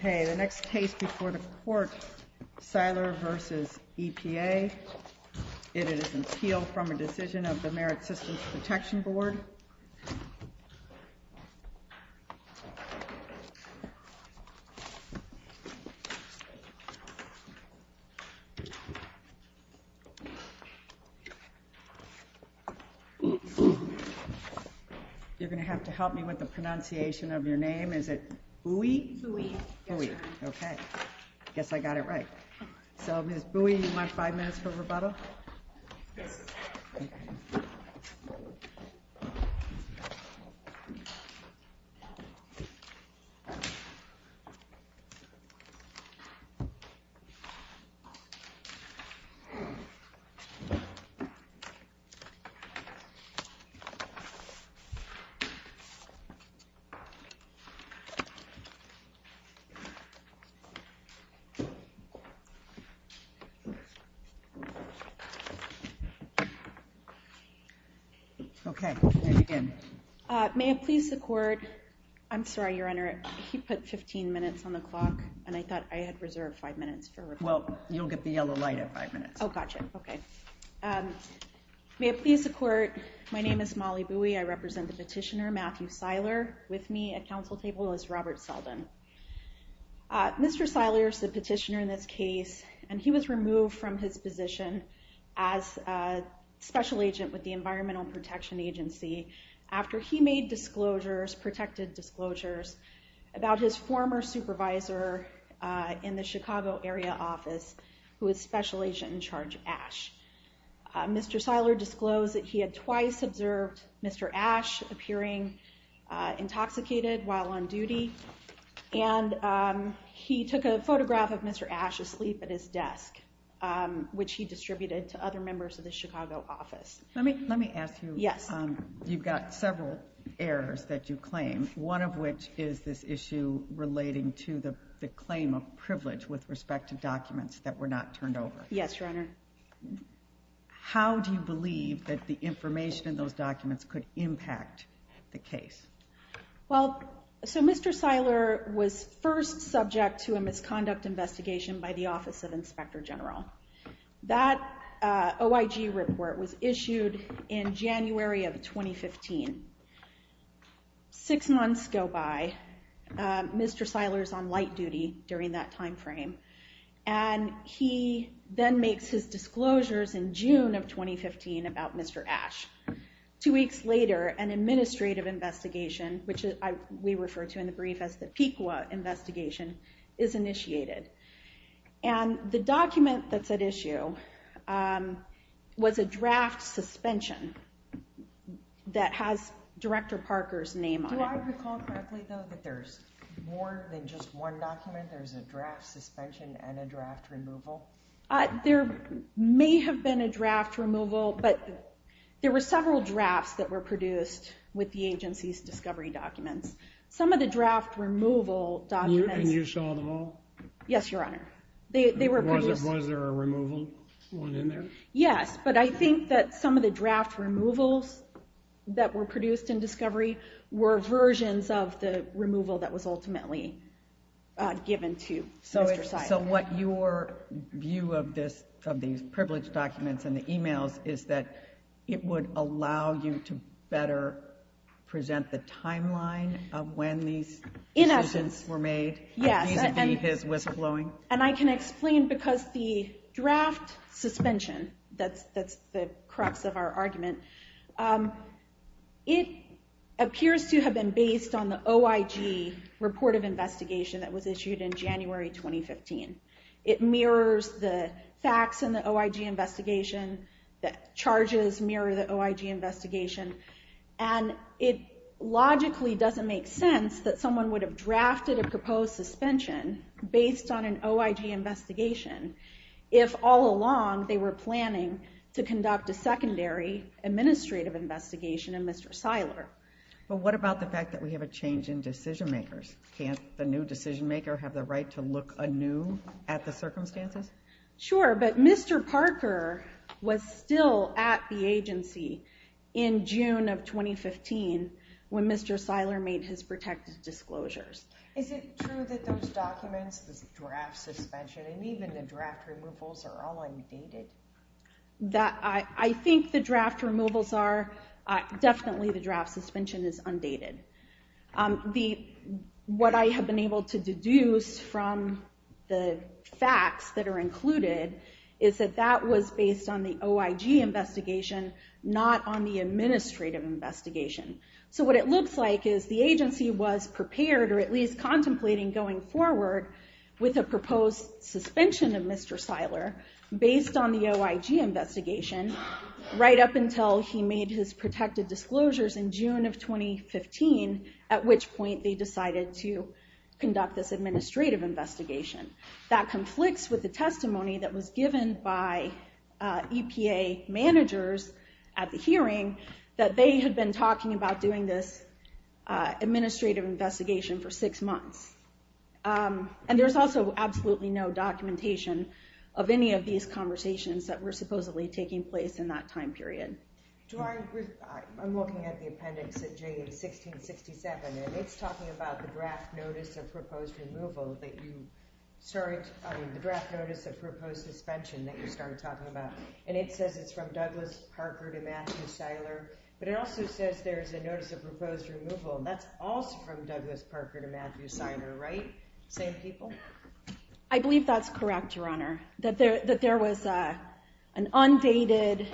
Okay, the next case before the court, Siler v. EPA. It is an appeal from a decision of the Merit Systems Protection Board. You're going to have to help me with the pronunciation of your name. Is it Bui? Bui. Okay, I guess I got it right. So, Ms. Bui, you want five minutes for rebuttal? May I please the court? I'm sorry, Your Honor, he put 15 minutes on the clock, and I thought I had reserved five minutes for rebuttal. Well, you'll get the yellow light at five minutes. Oh, gotcha. Okay. May I please the court? My name is Molly Bui. I represent the petitioner, Matthew Siler. With me at counsel table is Robert Selden. Mr. Siler is the petitioner in this case, and he was removed from his position as special agent with the Environmental Protection Agency after he made disclosures, protected disclosures, about his former supervisor in the Chicago area office, who was special agent in charge, Ash. Mr. Siler disclosed that he had twice observed Mr. Ash appearing intoxicated while on duty, and he took a photograph of Mr. Ash asleep at his desk, which he distributed to other members of the Chicago office. Let me ask you, you've got several errors that you claim, one of which is this issue relating to the claim of privilege with respect to documents that were not turned over. Yes, Your Honor. How do you believe that the information in those documents could impact the case? Well, so Mr. Siler was first subject to a misconduct investigation by the Office of Inspector General. That OIG report was issued in January of 2015. Six months go by, Mr. Siler's on light duty during that time frame, and he then makes his disclosures in June of 2015 about Mr. Ash. Two weeks later, an administrative investigation, which we refer to in the brief as the PECWA investigation, is initiated. And the document that's at issue was a draft suspension that has Director Parker's name on it. Do I recall correctly, though, that there's more than just one document? There's a draft suspension and a draft removal? There may have been a draft removal, but there were several drafts that were produced with the agency's discovery documents. Some of the draft removal documents... And you saw them all? Yes, Your Honor. Was there a removal one in there? Yes, but I think that some of the draft removals that were produced in discovery were versions of the removal that was ultimately given to Mr. Siler. So what your view of these privileged documents and the emails is that it would allow you to better present the timeline of when these decisions were made, vis-a-vis his whistleblowing? And I can explain because the draft suspension, that's the crux of our argument, it appears to have been based on the OIG report of investigation that was issued in January 2015. It mirrors the facts in the OIG investigation, the charges mirror the OIG investigation, and it logically doesn't make sense that someone would have drafted a proposed suspension based on an OIG investigation if all along they were planning to conduct a secondary administrative investigation in Mr. Siler. But what about the fact that we have a change in decision makers? Can't the new decision maker have the right to look anew at the circumstances? Sure, but Mr. Parker was still at the agency in June of 2015 when Mr. Siler made his protected disclosures. Is it true that those documents, the draft suspension, and even the draft removals are all undated? I think the draft removals are, definitely the draft suspension is undated. What I have been able to deduce from the facts that are included is that that was based on the OIG investigation, not on the administrative investigation. What it looks like is the agency was prepared, or at least contemplating going forward, with a proposed suspension of Mr. Siler based on the OIG investigation right up until he made his protected disclosures in June of 2015, at which point they decided to conduct this administrative investigation. That conflicts with the testimony that was given by EPA managers at the hearing that they had been talking about doing this administrative investigation for six months. And there's also absolutely no documentation of any of these conversations that were supposedly taking place in that time period. I'm looking at the appendix at J1667, and it's talking about the draft notice of proposed suspension that you started talking about. And it says it's from Douglas Parker to Matthew Siler, but it also says there's a notice of proposed removal, and that's also from Douglas Parker to Matthew Siler, right? Same people? I believe that's correct, Your Honor, that there was an undated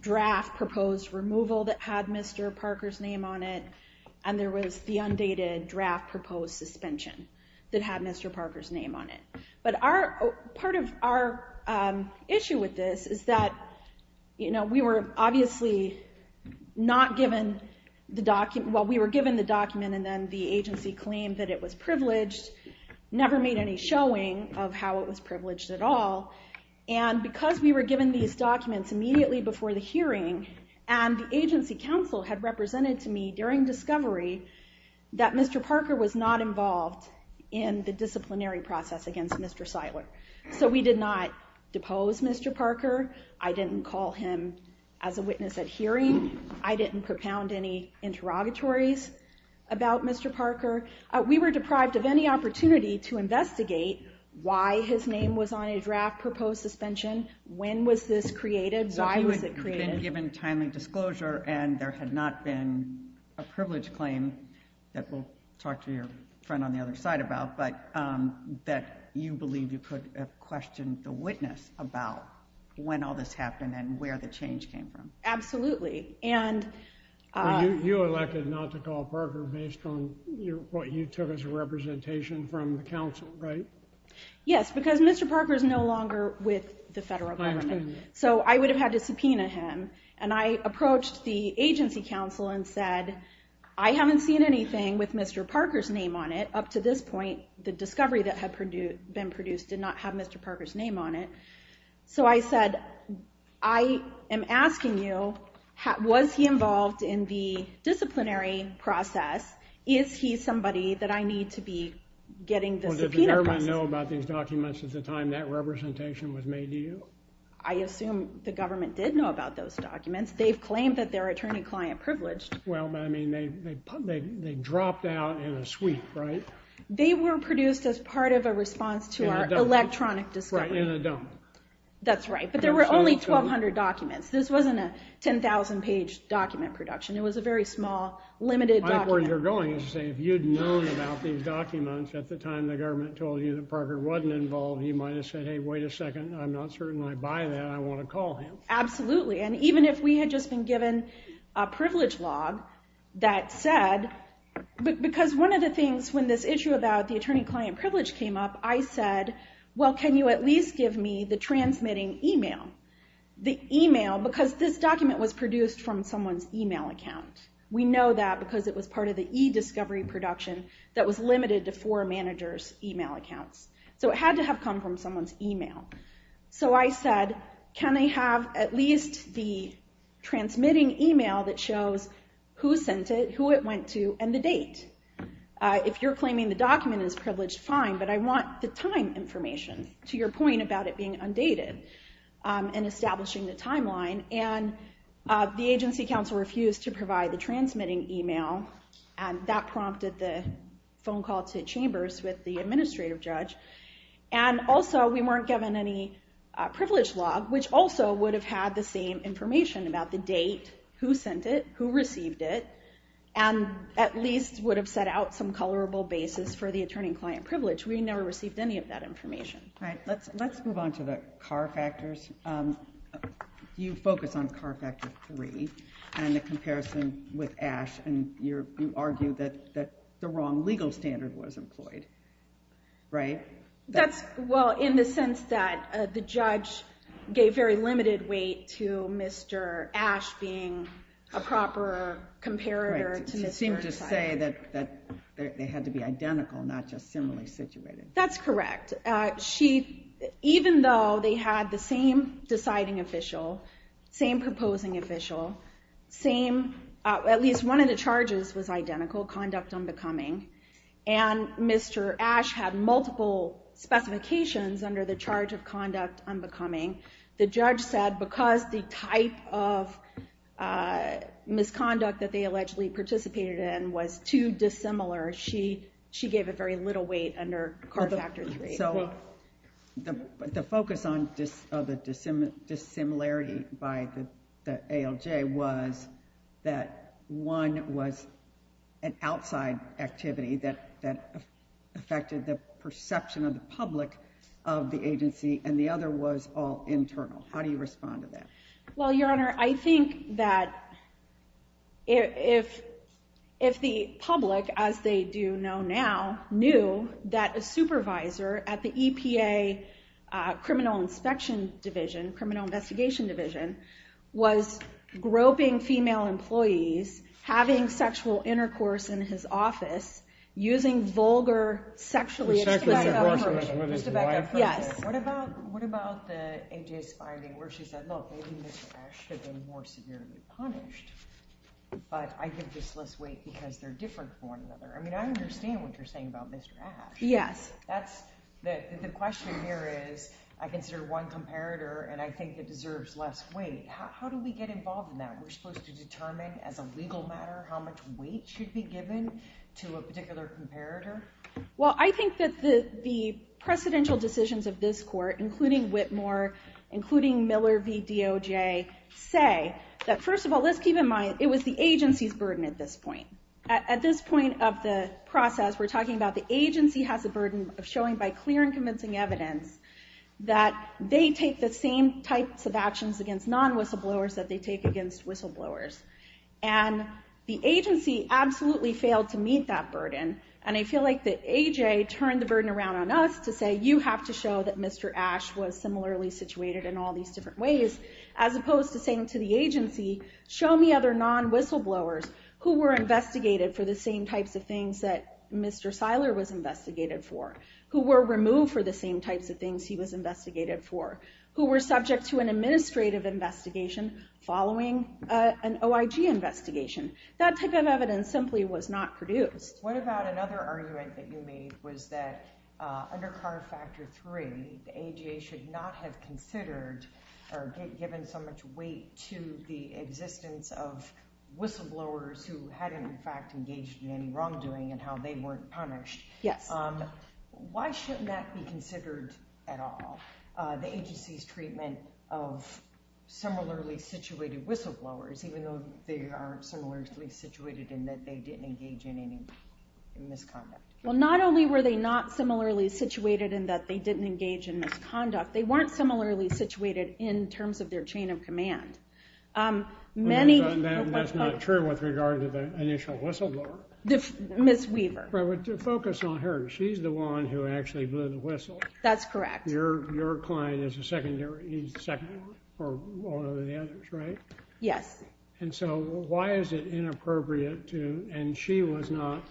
draft proposed removal that had Mr. Parker's name on it, and there was the undated draft proposed suspension that had Mr. Parker's name on it. But part of our issue with this is that we were given the document, and then the agency claimed that it was privileged, never made any showing of how it was privileged at all. And because we were given these documents immediately before the hearing, and the agency counsel had represented to me during discovery that Mr. Parker was not involved in the disciplinary process against Mr. Siler. So we did not depose Mr. Parker. I didn't call him as a witness at hearing. I didn't propound any interrogatories about Mr. Parker. We were deprived of any opportunity to investigate why his name was on a draft proposed suspension. When was this created? Why was it created? You elected not to call Parker based on what you took as a representation from the counsel, right? Yes, because Mr. Parker is no longer with the federal government. So I would have had to subpoena him. And I approached the agency counsel and said, I haven't seen anything with Mr. Parker's name on it up to this point. The discovery that had been produced did not have Mr. Parker's name on it. So I said, I am asking you, was he involved in the disciplinary process? Is he somebody that I need to be getting the subpoenas? Well, did the government know about these documents at the time that representation was made to you? I assume the government did know about those documents. They've claimed that they're attorney-client privileged. Well, I mean, they dropped out in a sweep, right? They were produced as part of a response to our electronic discovery. In a dump. That's right. But there were only 1,200 documents. This wasn't a 10,000-page document production. It was a very small, limited document. My point where you're going is to say, if you'd known about these documents at the time the government told you that Parker wasn't involved, you might have said, hey, wait a second. I'm not certain I buy that. I want to call him. Absolutely. And even if we had just been given a privilege log that said, because one of the things when this issue about the attorney-client privilege came up, I said, well, can you at least give me the transmitting email? The email, because this document was produced from someone's email account. We know that because it was part of the e-discovery production that was limited to four managers' email accounts. So it had to have come from someone's email. So I said, can I have at least the transmitting email that shows who sent it, who it went to, and the date? If you're claiming the document is privileged, fine, but I want the time information to your point about it being undated and establishing the timeline. And the agency counsel refused to provide the transmitting email, and that prompted the phone call to Chambers with the administrative judge. And also, we weren't given any privilege log, which also would have had the same information about the date, who sent it, who received it, and at least would have set out some colorable basis for the attorney-client privilege. We never received any of that information. All right, let's move on to the car factors. You focus on car factor three and the comparison with Ash, and you argue that the wrong legal standard was employed, right? That's, well, in the sense that the judge gave very limited weight to Mr. Ash being a proper comparator to Mr. Tyler. Right, it seemed to say that they had to be identical, not just similarly situated. That's correct. Even though they had the same deciding official, same proposing official, at least one of the charges was identical, conduct unbecoming. And Mr. Ash had multiple specifications under the charge of conduct unbecoming. The judge said because the type of misconduct that they allegedly participated in was too dissimilar, she gave it very little weight under car factor three. So the focus on the dissimilarity by the ALJ was that one was an outside activity that affected the perception of the public of the agency, and the other was all internal. How do you respond to that? Well, Your Honor, I think that if the public, as they do know now, knew that a supervisor at the EPA Criminal Inspection Division, Criminal Investigation Division, was groping female employees, having sexual intercourse in his office, using vulgar sexually- Mr. Ash should have been more severely punished, but I give this less weight because they're different from one another. I mean, I understand what you're saying about Mr. Ash. Yes. The question here is, I consider one comparator, and I think it deserves less weight. How do we get involved in that? We're supposed to determine, as a legal matter, how much weight should be given to a particular comparator? Well, I think that the precedential decisions of this court, including Whitmore, including Miller v. DOJ, say that, first of all, let's keep in mind, it was the agency's burden at this point. At this point of the process, we're talking about the agency has a burden of showing by clear and convincing evidence that they take the same types of actions against non-whistleblowers that they take against whistleblowers. And the agency absolutely failed to meet that burden, and I feel like that A.J. turned the burden around on us to say, you have to show that Mr. Ash was similarly situated in all these different ways, as opposed to saying to the agency, show me other non-whistleblowers who were investigated for the same types of things that Mr. Seiler was investigated for, who were removed for the same types of things he was investigated for, who were subject to an administrative investigation following an open case. That type of evidence simply was not produced. What about another argument that you made was that under CAR Factor 3, the A.J. should not have considered or given so much weight to the existence of whistleblowers who hadn't, in fact, engaged in any wrongdoing and how they weren't punished. Yes. Why shouldn't that be considered at all, the agency's treatment of similarly situated whistleblowers, even though they aren't similarly situated in that they didn't engage in any misconduct? Well, not only were they not similarly situated in that they didn't engage in misconduct, they weren't similarly situated in terms of their chain of command. That's not true with regard to the initial whistleblower. Ms. Weaver. To focus on her, she's the one who actually blew the whistle. That's correct. Your client is a secondary, he's the secondary for one of the others, right? Yes. And so why is it inappropriate to, and she was not,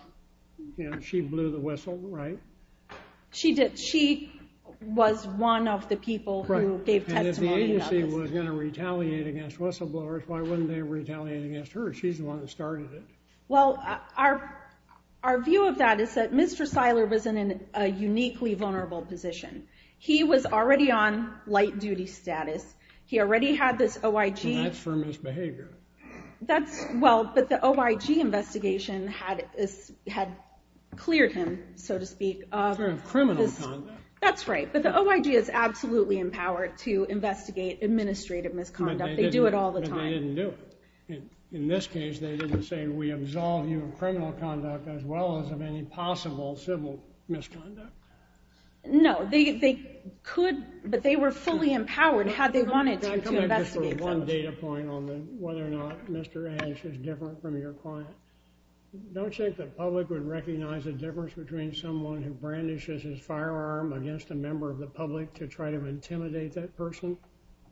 you know, she blew the whistle, right? She did. She was one of the people who gave testimony about this. And if the agency was going to retaliate against whistleblowers, why wouldn't they retaliate against her? She's the one who started it. Well, our view of that is that Mr. Seiler was in a uniquely vulnerable position. He was already on light duty status. He already had this OIG. And that's for misbehavior. That's, well, but the OIG investigation had cleared him, so to speak. For criminal conduct. That's right, but the OIG is absolutely empowered to investigate administrative misconduct. They do it all the time. But they didn't do it. In this case, they didn't say, we absolve you of criminal conduct as well as of any possible civil misconduct. No, they could, but they were fully empowered, had they wanted to, to investigate those. I'm coming back just for one data point on whether or not Mr. Ash is different from your client. Don't you think the public would recognize the difference between someone who brandishes his firearm against a member of the public to try to intimidate that person?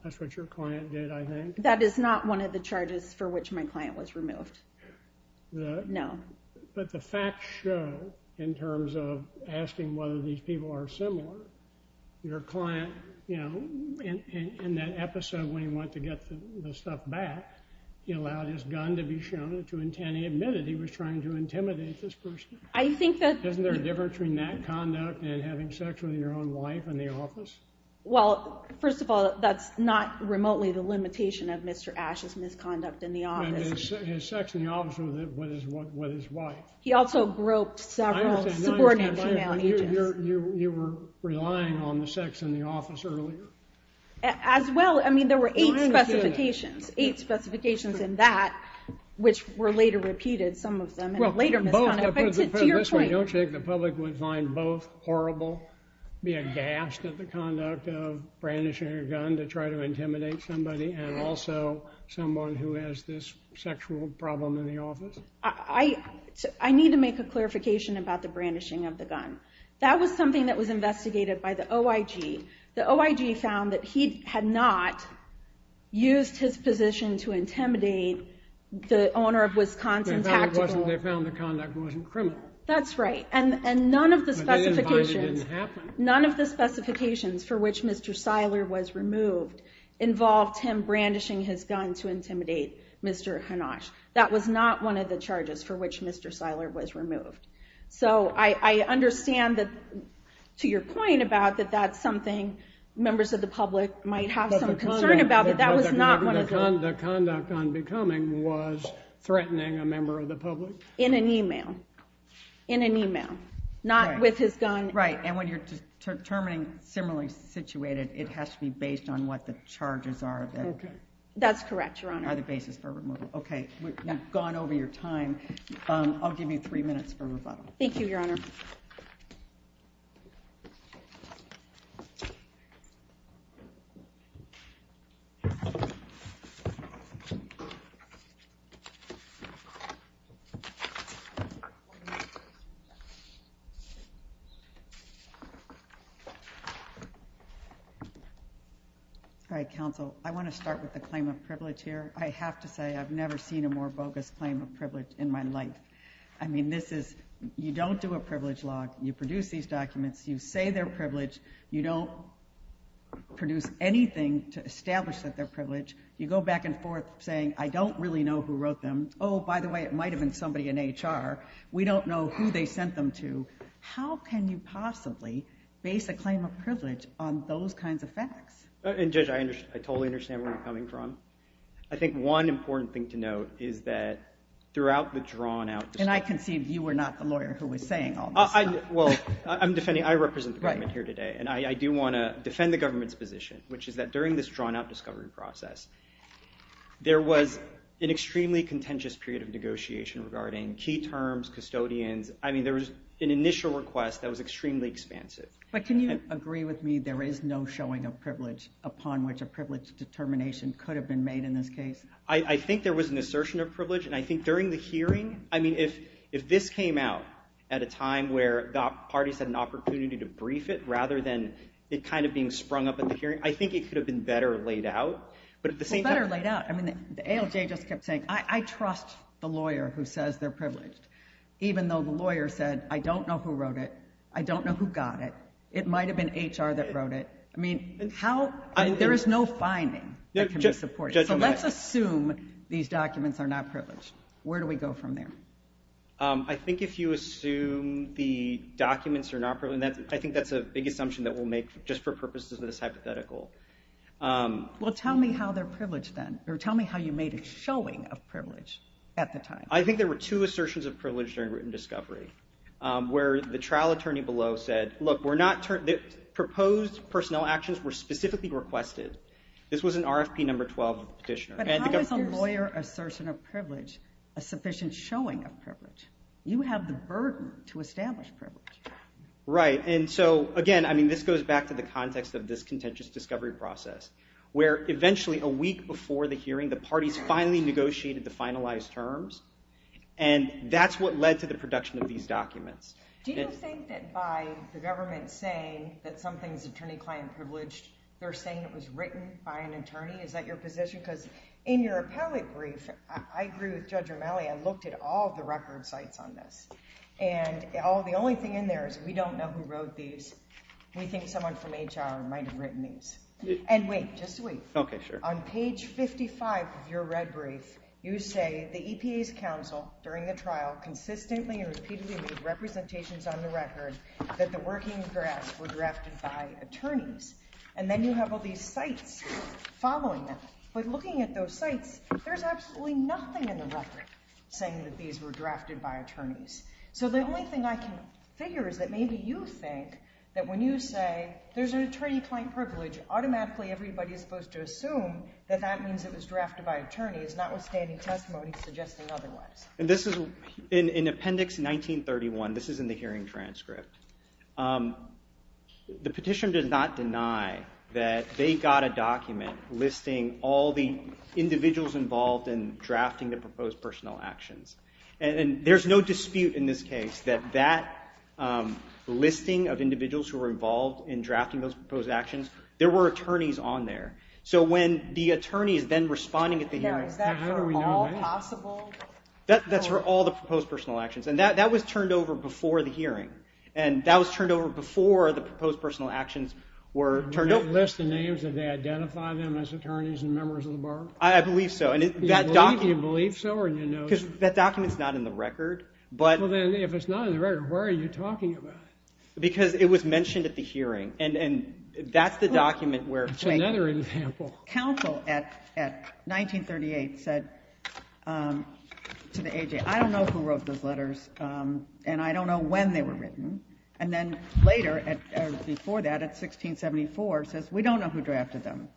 That's what your client did, I think. That is not one of the charges for which my client was removed. No. But the facts show, in terms of asking whether these people are similar, your client, you know, in that episode when he went to get the stuff back, he allowed his gun to be shown to intend to admit that he was trying to intimidate this person. I think that... Isn't there a difference between that conduct and having sex with your own wife in the office? Well, first of all, that's not remotely the limitation of Mr. Ash's misconduct in the office. And his sex in the office with his wife. He also groped several subordinate female agents. You were relying on the sex in the office earlier? As well, I mean, there were eight specifications. Eight specifications in that, which were later repeated, some of them, in a later misconduct. Don't you think the public would find both horrible, be aghast at the conduct of brandishing a gun to try to intimidate somebody, and also someone who has this sexual problem in the office? I need to make a clarification about the brandishing of the gun. That was something that was investigated by the OIG. The OIG found that he had not used his position to intimidate the owner of Wisconsin Tactical... They found the conduct wasn't criminal. That's right. And none of the specifications... But they didn't find it didn't happen. None of the specifications for which Mr. Seiler was removed involved him brandishing his gun to intimidate Mr. Hanash. That was not one of the charges for which Mr. Seiler was removed. So I understand that, to your point about that that's something members of the public might have some concern about, but that was not one of the... The conduct on becoming was threatening a member of the public? In an email. In an email. Not with his gun. Right. And when you're determining similarly situated, it has to be based on what the charges are that... That's correct, Your Honor. Are the basis for removal. We've gone over your time. I'll give you three minutes for rebuttal. Thank you, Your Honor. All right, counsel. I want to start with the claim of privilege here. I have to say I've never seen a more bogus claim of privilege in my life. I mean, this is... You don't do a privilege log. You produce these documents. You say they're privileged. You don't produce anything to establish that they're privileged. You go back and forth saying, I don't really know who wrote them. Oh, by the way, it might have been somebody in HR. We don't know who they sent them to. How can you possibly base a claim of privilege on those kinds of facts? And Judge, I totally understand where you're coming from. I think one important thing to note is that throughout the drawn out... And I conceived you were not the lawyer who was saying all this stuff. Well, I'm defending... I represent the government here today. Right. And I do want to defend the government's position, which is that during this drawn out discovery process, there was an extremely contentious period of negotiation regarding key terms, custodians. I mean, there was an initial request that was extremely expansive. But can you agree with me there is no showing of privilege upon which a privilege determination could have been made in this case? I think there was an assertion of privilege, and I think during the hearing... I mean, if this came out at a time where the parties had an opportunity to make a decision, it kind of being sprung up at the hearing, I think it could have been better laid out. But at the same time... Well, better laid out. I mean, the ALJ just kept saying, I trust the lawyer who says they're privileged, even though the lawyer said, I don't know who wrote it. I don't know who got it. It might have been HR that wrote it. I mean, there is no finding that can be supported. So let's assume these documents are not privileged. Where do we go from there? I think if you assume the documents are not privileged, I think that's a big assumption that we'll make just for purposes of this hypothetical. Well, tell me how they're privileged then, or tell me how you made a showing of privilege at the time. I think there were two assertions of privilege during written discovery, where the trial attorney below said, look, proposed personnel actions were specifically requested. This was an RFP number 12 petitioner. But how is a lawyer assertion of privilege a sufficient showing of privilege? You have the burden to establish privilege. Right. And so, again, I mean, this goes back to the context of this contentious discovery process, where eventually a week before the hearing, the parties finally negotiated the finalized terms. And that's what led to the production of these documents. Do you think that by the government saying that something's attorney-client privileged, they're saying it was written by an attorney? Is that your position? Because in your appellate brief, I agree with Judge Romelli, I looked at all the record sites on this. And the only thing in there is we don't know who wrote these. We think someone from HR might have written these. And wait, just wait. Okay, sure. On page 55 of your red brief, you say the EPA's counsel during the trial consistently and repeatedly made representations on the record that the working drafts were drafted by attorneys. And then you have all these sites following that. But looking at those sites, there's absolutely nothing in the record saying that these were drafted by attorneys. So the only thing I can figure is that maybe you think that when you say there's an attorney-client privilege, automatically everybody is supposed to assume that that means it was drafted by attorneys, notwithstanding testimony suggesting otherwise. And this is in Appendix 1931. This is in the hearing transcript. The petition does not deny that they got a document listing all the individuals involved in drafting the proposed personal actions. And there's no dispute in this case that that listing of individuals who were involved in drafting those proposed actions, there were attorneys on there. So when the attorney is then responding at the hearing... Now, is that for all possible... That's for all the proposed personal actions. And that was turned over before the hearing. And that was turned over before the proposed personal actions were turned over. Did they list the names? Did they identify them as attorneys and members of the bar? I believe so. Do you believe so or do you know... Because that document is not in the record. Well, then, if it's not in the record, where are you talking about? Because it was mentioned at the hearing. And that's the document where... Another example. Counsel at 1938 said to the A.J., I don't know who wrote those letters and I don't know when they were written. And then later, before that, at 1674, says, we don't know who drafted them.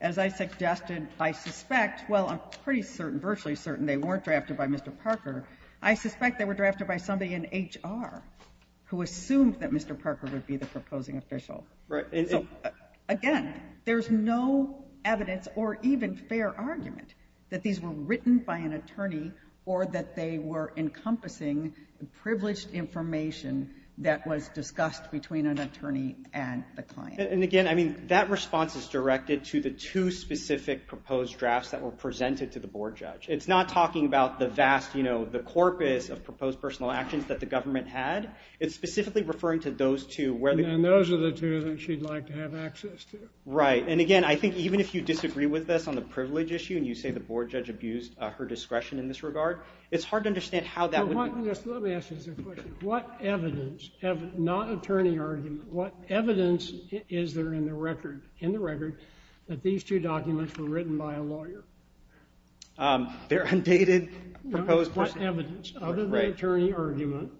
As I suggested, I suspect, well, I'm pretty certain, virtually certain they weren't drafted by Mr. Parker. I suspect they were drafted by somebody in H.R. who assumed that Mr. Parker would be the proposing official. Again, there's no evidence or even fair argument that these were written by an attorney or that they were encompassing privileged information that was discussed between an attorney and the client. And again, I mean, that response is directed to the two specific proposed drafts that were presented to the board judge. It's not talking about the vast, you know, the corpus of proposed personal actions that the government had. It's specifically referring to those two where... And those are the two that she'd like to have access to. Right. And again, I think even if you disagree with this on the privilege issue and you say the board judge abused her discretion in this regard, it's hard to understand how that would... Let me ask you this question. What evidence, not attorney argument, what evidence is there in the record that these two documents were written by a lawyer? Their undated proposed... What evidence, other than attorney argument,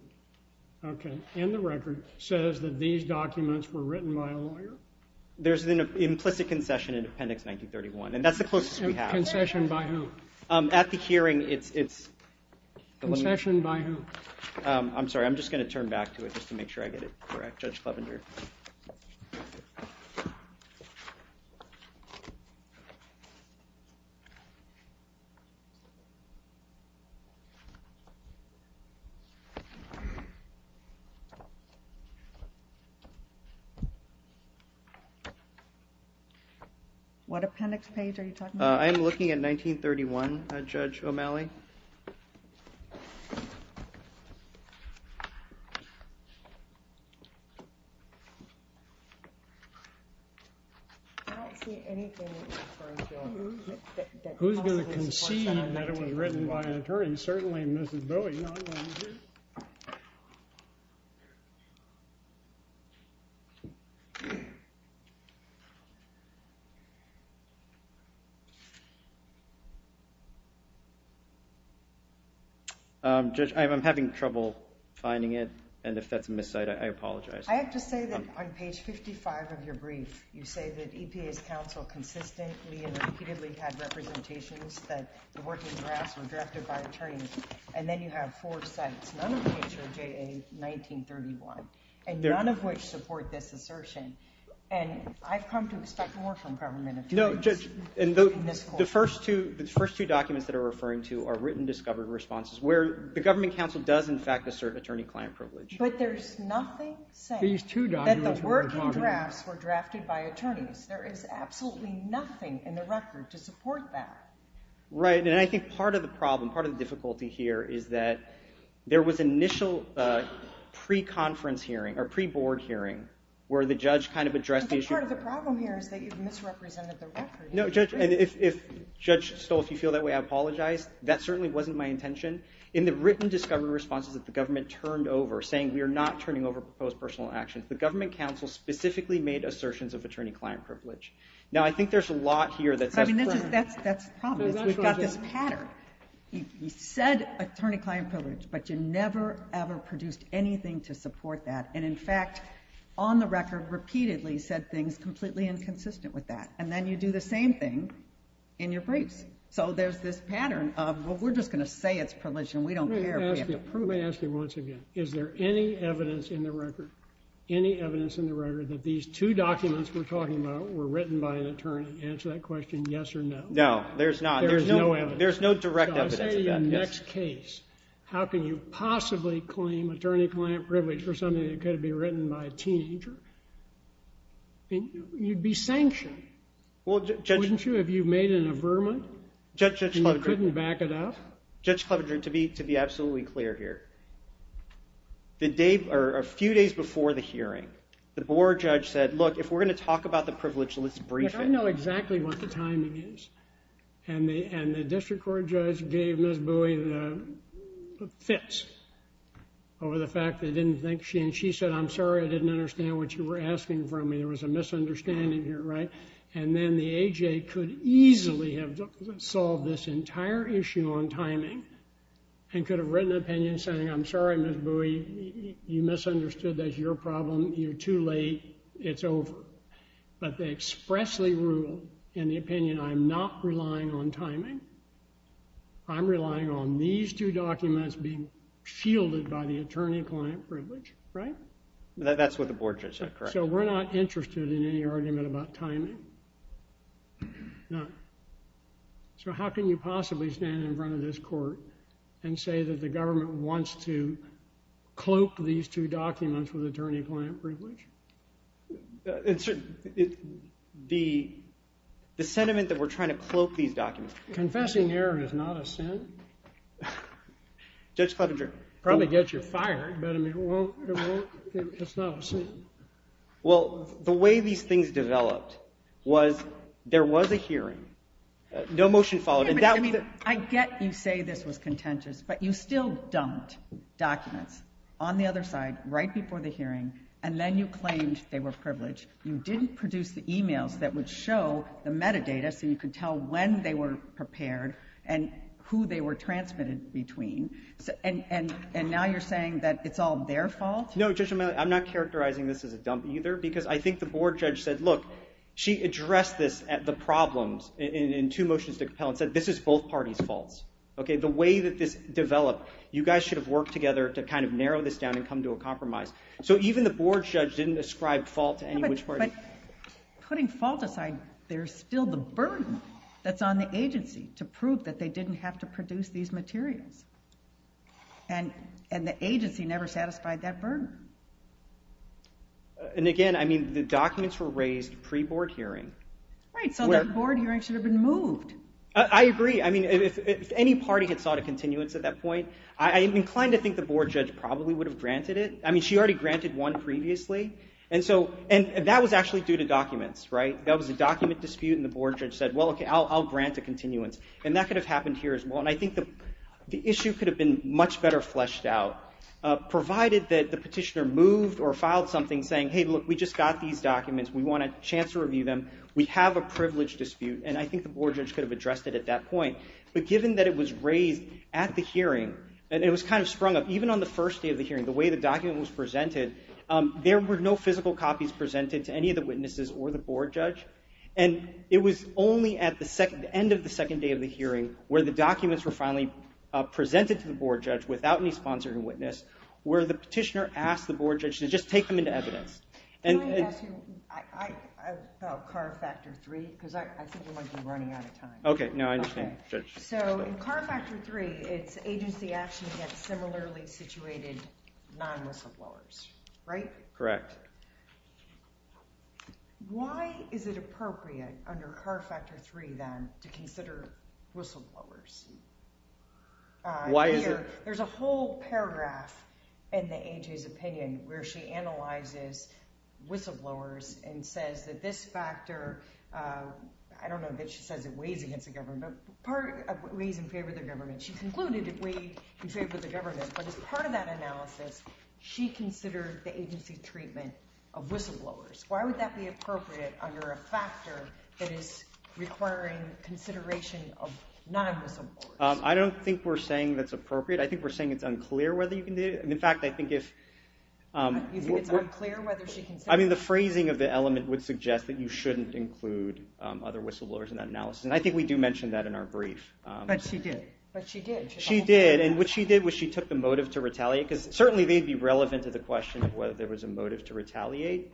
okay, in the record, says that these documents were written by a lawyer? There's an implicit concession in Appendix 1931. And that's the closest we have. Concession by who? At the hearing, it's... Concession by who? I'm sorry, I'm just going to turn back to it just to make sure I get it correct, Judge Clevenger. What appendix page are you talking about? I'm looking at 1931, Judge O'Malley. O'Malley? I don't see anything... Who's going to concede that it was written by an attorney? I'm certainly Mrs. Bowie. Judge, I'm having trouble finding it. And if that's a miscite, I apologize. I have to say that on page 55 of your brief, you say that EPA's counsel consistently and repeatedly had representations that the working drafts were drafted by attorneys. And then you have four sites, none of which are JA 1931, and none of which support this assertion. And I've come to expect more from government attorneys. No, Judge, and the first two documents that are referring to are written discovered responses, where the government counsel does, in fact, assert attorney-client privilege. But there's nothing saying that the working drafts were drafted by attorneys. There is absolutely nothing in the record to support that. Right, and I think part of the problem, part of the difficulty here is that there was initial pre-conference hearing, or pre-board hearing, where the judge kind of addressed the issue... But part of the problem here is that you've misrepresented the record. No, Judge, and if, Judge Stoll, if you feel that way, I apologize. That certainly wasn't my intention. In the written discovery responses that the government turned over, saying we are not turning over proposed personal actions, the government counsel specifically made assertions of attorney-client privilege. Now, I think there's a lot here that says... I mean, that's the problem. We've got this pattern. You said attorney-client privilege, but you never, ever produced anything to support that. And, in fact, on the record, repeatedly said things completely inconsistent with that. And then you do the same thing in your briefs. So there's this pattern of, well, we're just going to say it's privilege, and we don't care. Let me ask you once again. Is there any evidence in the record, any evidence in the record, that these two documents we're talking about were written by an attorney? Answer that question, yes or no. No, there's not. There's no evidence. There's no direct evidence of that. So I say in your next case, how can you possibly claim attorney-client privilege for something that could be written by a teenager? You'd be sanctioned. Well, Judge... Wouldn't you if you made an affirmment? And you couldn't back it up? Judge Clevenger, to be absolutely clear here, a few days before the hearing, the board judge said, look, if we're going to talk about the privilege, let's brief it. I know exactly what the timing is. And the district court judge gave Ms. Bowie the fits over the fact that they didn't think she... And she said, I'm sorry, I didn't understand what you were asking from me. There was a misunderstanding here, right? And then the AJ could easily have solved this entire issue on timing and could have written an opinion saying, I'm sorry, Ms. Bowie, you misunderstood. That's your problem. You're too late. It's over. But they expressly ruled in the opinion, I'm not relying on timing. I'm relying on these two documents being shielded by the attorney-client privilege, right? That's what the board judge said, correct. So we're not interested in any argument about timing. No. So how can you possibly stand in front of this court and say that the government wants to cloak these two documents with attorney-client privilege? The sentiment that we're trying to cloak these documents... Confessing error is not a sin. Judge Clevenger... Probably gets you fired, but I mean, it's not a sin. Well, the way these things developed was there was a hearing. No motion followed. I get you say this was contentious, but you still dumped documents on the other side right before the hearing, and then you claimed they were privileged. You didn't produce the e-mails that would show the metadata so you could tell when they were prepared and who they were transmitted between. And now you're saying that it's all their fault? No, Judge O'Malley, I'm not characterizing this as a dump either because I think the board judge said, look, she addressed this at the problems in two motions to compel and said this is both parties' faults. Okay, the way that this developed, you guys should have worked together to kind of narrow this down and come to a compromise. So even the board judge didn't ascribe fault to any which party. But putting fault aside, there's still the burden that's on the agency to prove that they didn't have to produce these materials. And the agency never satisfied that burden. And again, I mean, the documents were raised pre-board hearing. Right, so that board hearing should have been moved. I agree. I mean, if any party had sought a continuance at that point, I'm inclined to think the board judge probably would have granted it. I mean, she already granted one previously. And that was actually due to documents, right? That was a document dispute, and the board judge said, well, okay, I'll grant a continuance. And that could have happened here as well. And I think the issue could have been much better fleshed out provided that the petitioner moved or filed something saying, hey, look, we just got these documents. We want a chance to review them. We have a privileged dispute. And I think the board judge could have addressed it at that point. But given that it was raised at the hearing, and it was kind of sprung up, even on the first day of the hearing, the way the document was presented, there were no physical copies presented to any of the witnesses or the board judge. And it was only at the end of the second day of the hearing where the documents were finally presented to the board judge without any sponsoring witness, where the petitioner asked the board judge to just take them into evidence. Can I ask you about CAR Factor 3? Because I think we might be running out of time. Okay, no, I understand, Judge. So in CAR Factor 3, it's agency action against similarly situated non-whistleblowers, right? Correct. Why is it appropriate under CAR Factor 3, then, to consider whistleblowers? Here, there's a whole paragraph in the AG's opinion where she analyzes whistleblowers and says that this factor, I don't know if she says it weighs against the government, but it weighs in favor of the government. She concluded it weighed in favor of the government. But as part of that analysis, she considered the agency's treatment of whistleblowers. Why would that be appropriate under a factor that is requiring consideration of non-whistleblowers? I don't think we're saying that's appropriate. I think we're saying it's unclear whether you can do it. In fact, I think if... You think it's unclear whether she can say it? I mean, the phrasing of the element would suggest that you shouldn't include other whistleblowers in that analysis. And I think we do mention that in our brief. But she did. She did. And what she did was she took the motive to retaliate, because certainly they'd be relevant to the question of whether there was a motive to retaliate,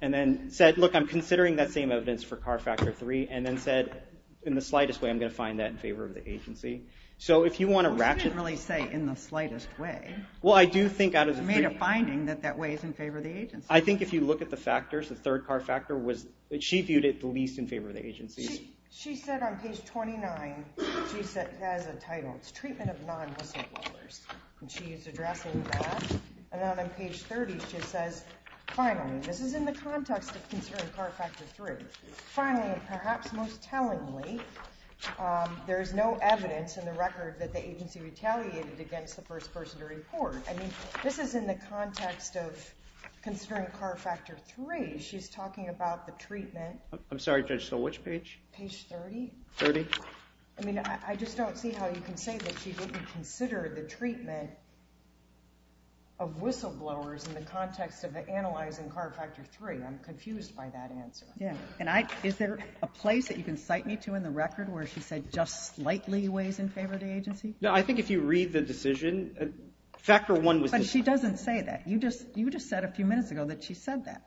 and then said, look, I'm considering that same evidence for CAR Factor 3, and then said, in the slightest way, I'm going to find that in favor of the agency. So if you want to ratchet... Well, she didn't really say in the slightest way. Well, I do think out of the three... She made a finding that that weighs in favor of the agency. I think if you look at the factors, the third CAR Factor was... She viewed it the least in favor of the agency. She said on page 29, she has a title. It's Treatment of Non-Whistleblowers. And she is addressing that. And then on page 30, she says, finally, this is in the context of considering CAR Factor 3. Finally, and perhaps most tellingly, there is no evidence in the record that the agency retaliated against the first person to report. I mean, this is in the context of considering CAR Factor 3. She's talking about the treatment. I'm sorry, Judge, so which page? Page 30. 30. I mean, I just don't see how you can say that she didn't consider the treatment of whistleblowers in the context of analyzing CAR Factor 3. I'm confused by that answer. Yeah, and is there a place that you can cite me to in the record where she said just slightly weighs in favor of the agency? No, I think if you read the decision, Factor 1 was... But she doesn't say that. You just said a few minutes ago that she said that.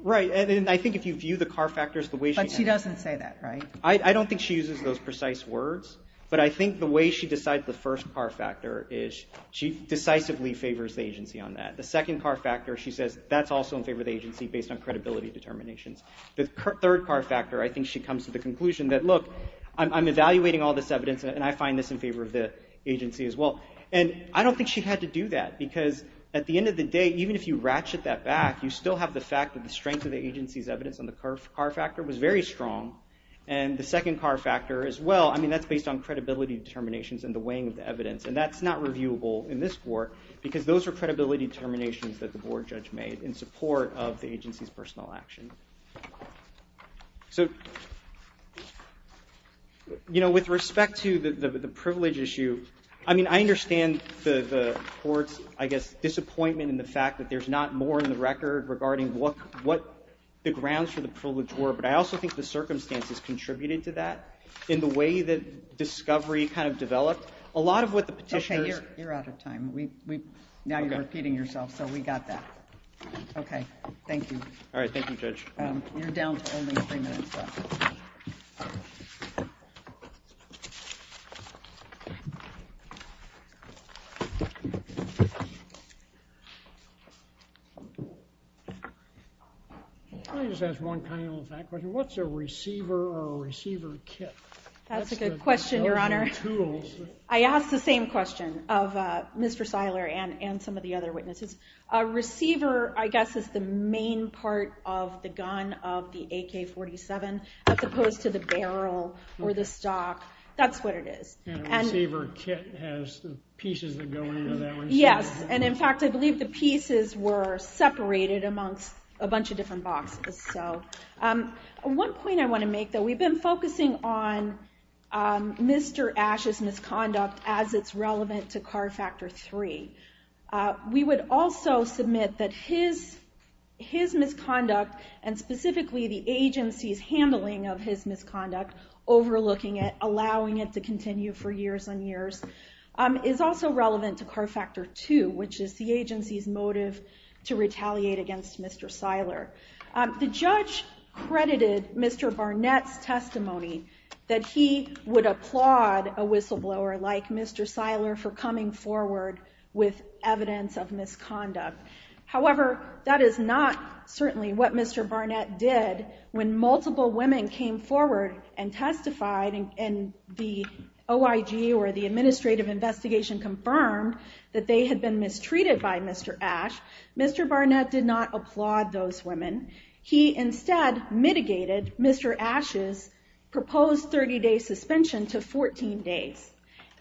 Right, and I think if you view the CAR Factors the way she... But she doesn't say that, right? I don't think she uses those precise words, but I think the way she decides the first CAR Factor is she decisively favors the agency on that. The second CAR Factor, she says that's also in favor of the agency based on credibility determinations. The third CAR Factor, I think she comes to the conclusion that, look, I'm evaluating all this evidence, and I find this in favor of the agency as well. And I don't think she had to do that because at the end of the day, even if you ratchet that back, you still have the fact that the strength of the agency's evidence on the CAR Factor was very strong. And the second CAR Factor as well, I mean, that's based on credibility determinations and the weighing of the evidence. And that's not reviewable in this court because those are credibility determinations that the board judge made in support of the agency's personal action. So, you know, with respect to the privilege issue, I mean, I understand the court's, I guess, disappointment in the fact that there's not more in the record regarding what the grounds for the privilege were, but I also think the circumstances contributed to that in the way that discovery kind of developed. A lot of what the petitioners... Okay, you're out of time. Now you're repeating yourself, so we got that. Okay, thank you. All right, thank you, Judge. You're down to only three minutes left. Can I just ask one tiny little fact question? What's a receiver or a receiver kit? That's a good question, Your Honor. I asked the same question of Mr. Seiler and some of the other witnesses. A receiver, I guess, is the main part of the gun of the AK-47, as opposed to the barrel or the stock. That's what it is. And a receiver kit has the pieces that go into that receiver. Yes, and in fact, I believe the pieces were separated amongst a bunch of different boxes. One point I want to make, though, we've been focusing on Mr. Ashe's misconduct as it's relevant to CAR Factor 3. We would also submit that his misconduct, and specifically the agency's handling of his misconduct, overlooking it, allowing it to continue for years and years, is also relevant to CAR Factor 2, which is the agency's motive to retaliate against Mr. Seiler. The judge credited Mr. Barnett's testimony that he would applaud a whistleblower like Mr. Seiler for coming forward with evidence of misconduct. However, that is not certainly what Mr. Barnett did when multiple women came forward and testified, and the OIG or the administrative investigation confirmed that they had been mistreated by Mr. Ashe. Mr. Barnett did not applaud those women. He instead mitigated Mr. Ashe's proposed 30-day suspension to 14 days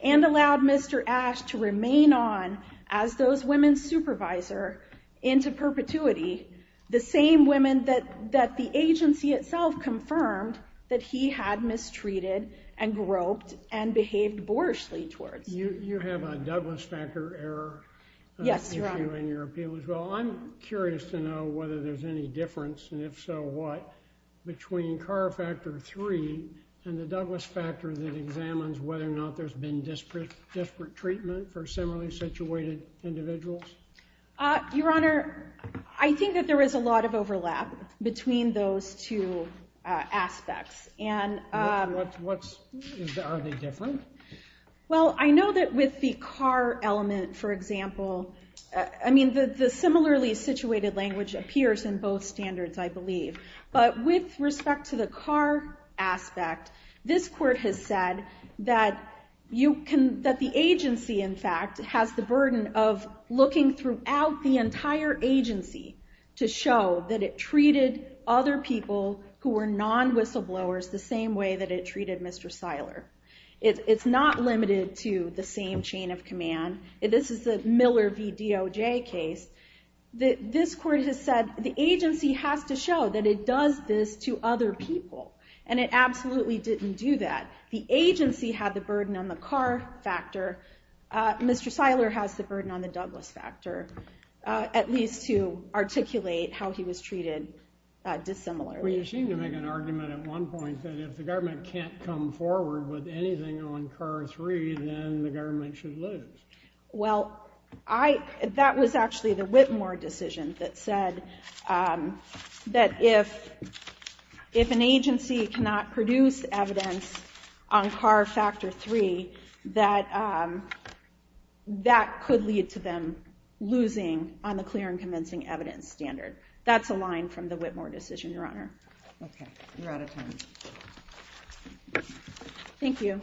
and allowed Mr. Ashe to remain on as those women's supervisor into perpetuity, the same women that the agency itself confirmed that he had mistreated and groped and behaved boorishly towards. You have a Douglas Factor error issue in your appeal as well. I'm curious to know whether there's any difference, and if so, what, between CAR Factor 3 and the Douglas Factor that examines whether or not there's been disparate treatment for similarly situated individuals? Your Honor, I think that there is a lot of overlap between those two aspects. Are they different? Well, I know that with the CAR element, for example, I mean, the similarly situated language appears in both standards, I believe. But with respect to the CAR aspect, this court has said that the agency, in fact, has the burden of looking throughout the entire agency to show that it treated other people who were non-whistleblowers the same way that it treated Mr. Seiler. It's not limited to the same chain of command. This is the Miller v. DOJ case. This court has said the agency has to show that it does this to other people, and it absolutely didn't do that. The agency had the burden on the CAR factor. Mr. Seiler has the burden on the Douglas Factor, at least to articulate how he was treated dissimilarly. Well, you seem to make an argument at one point that if the government can't come forward with anything on CAR 3, then the government should lose. Well, that was actually the Whitmore decision that said that if an agency cannot produce evidence on CAR Factor 3, that that could lead to them losing on the clear and convincing evidence standard. That's a line from the Whitmore decision, Your Honor. Okay, we're out of time. Thank you.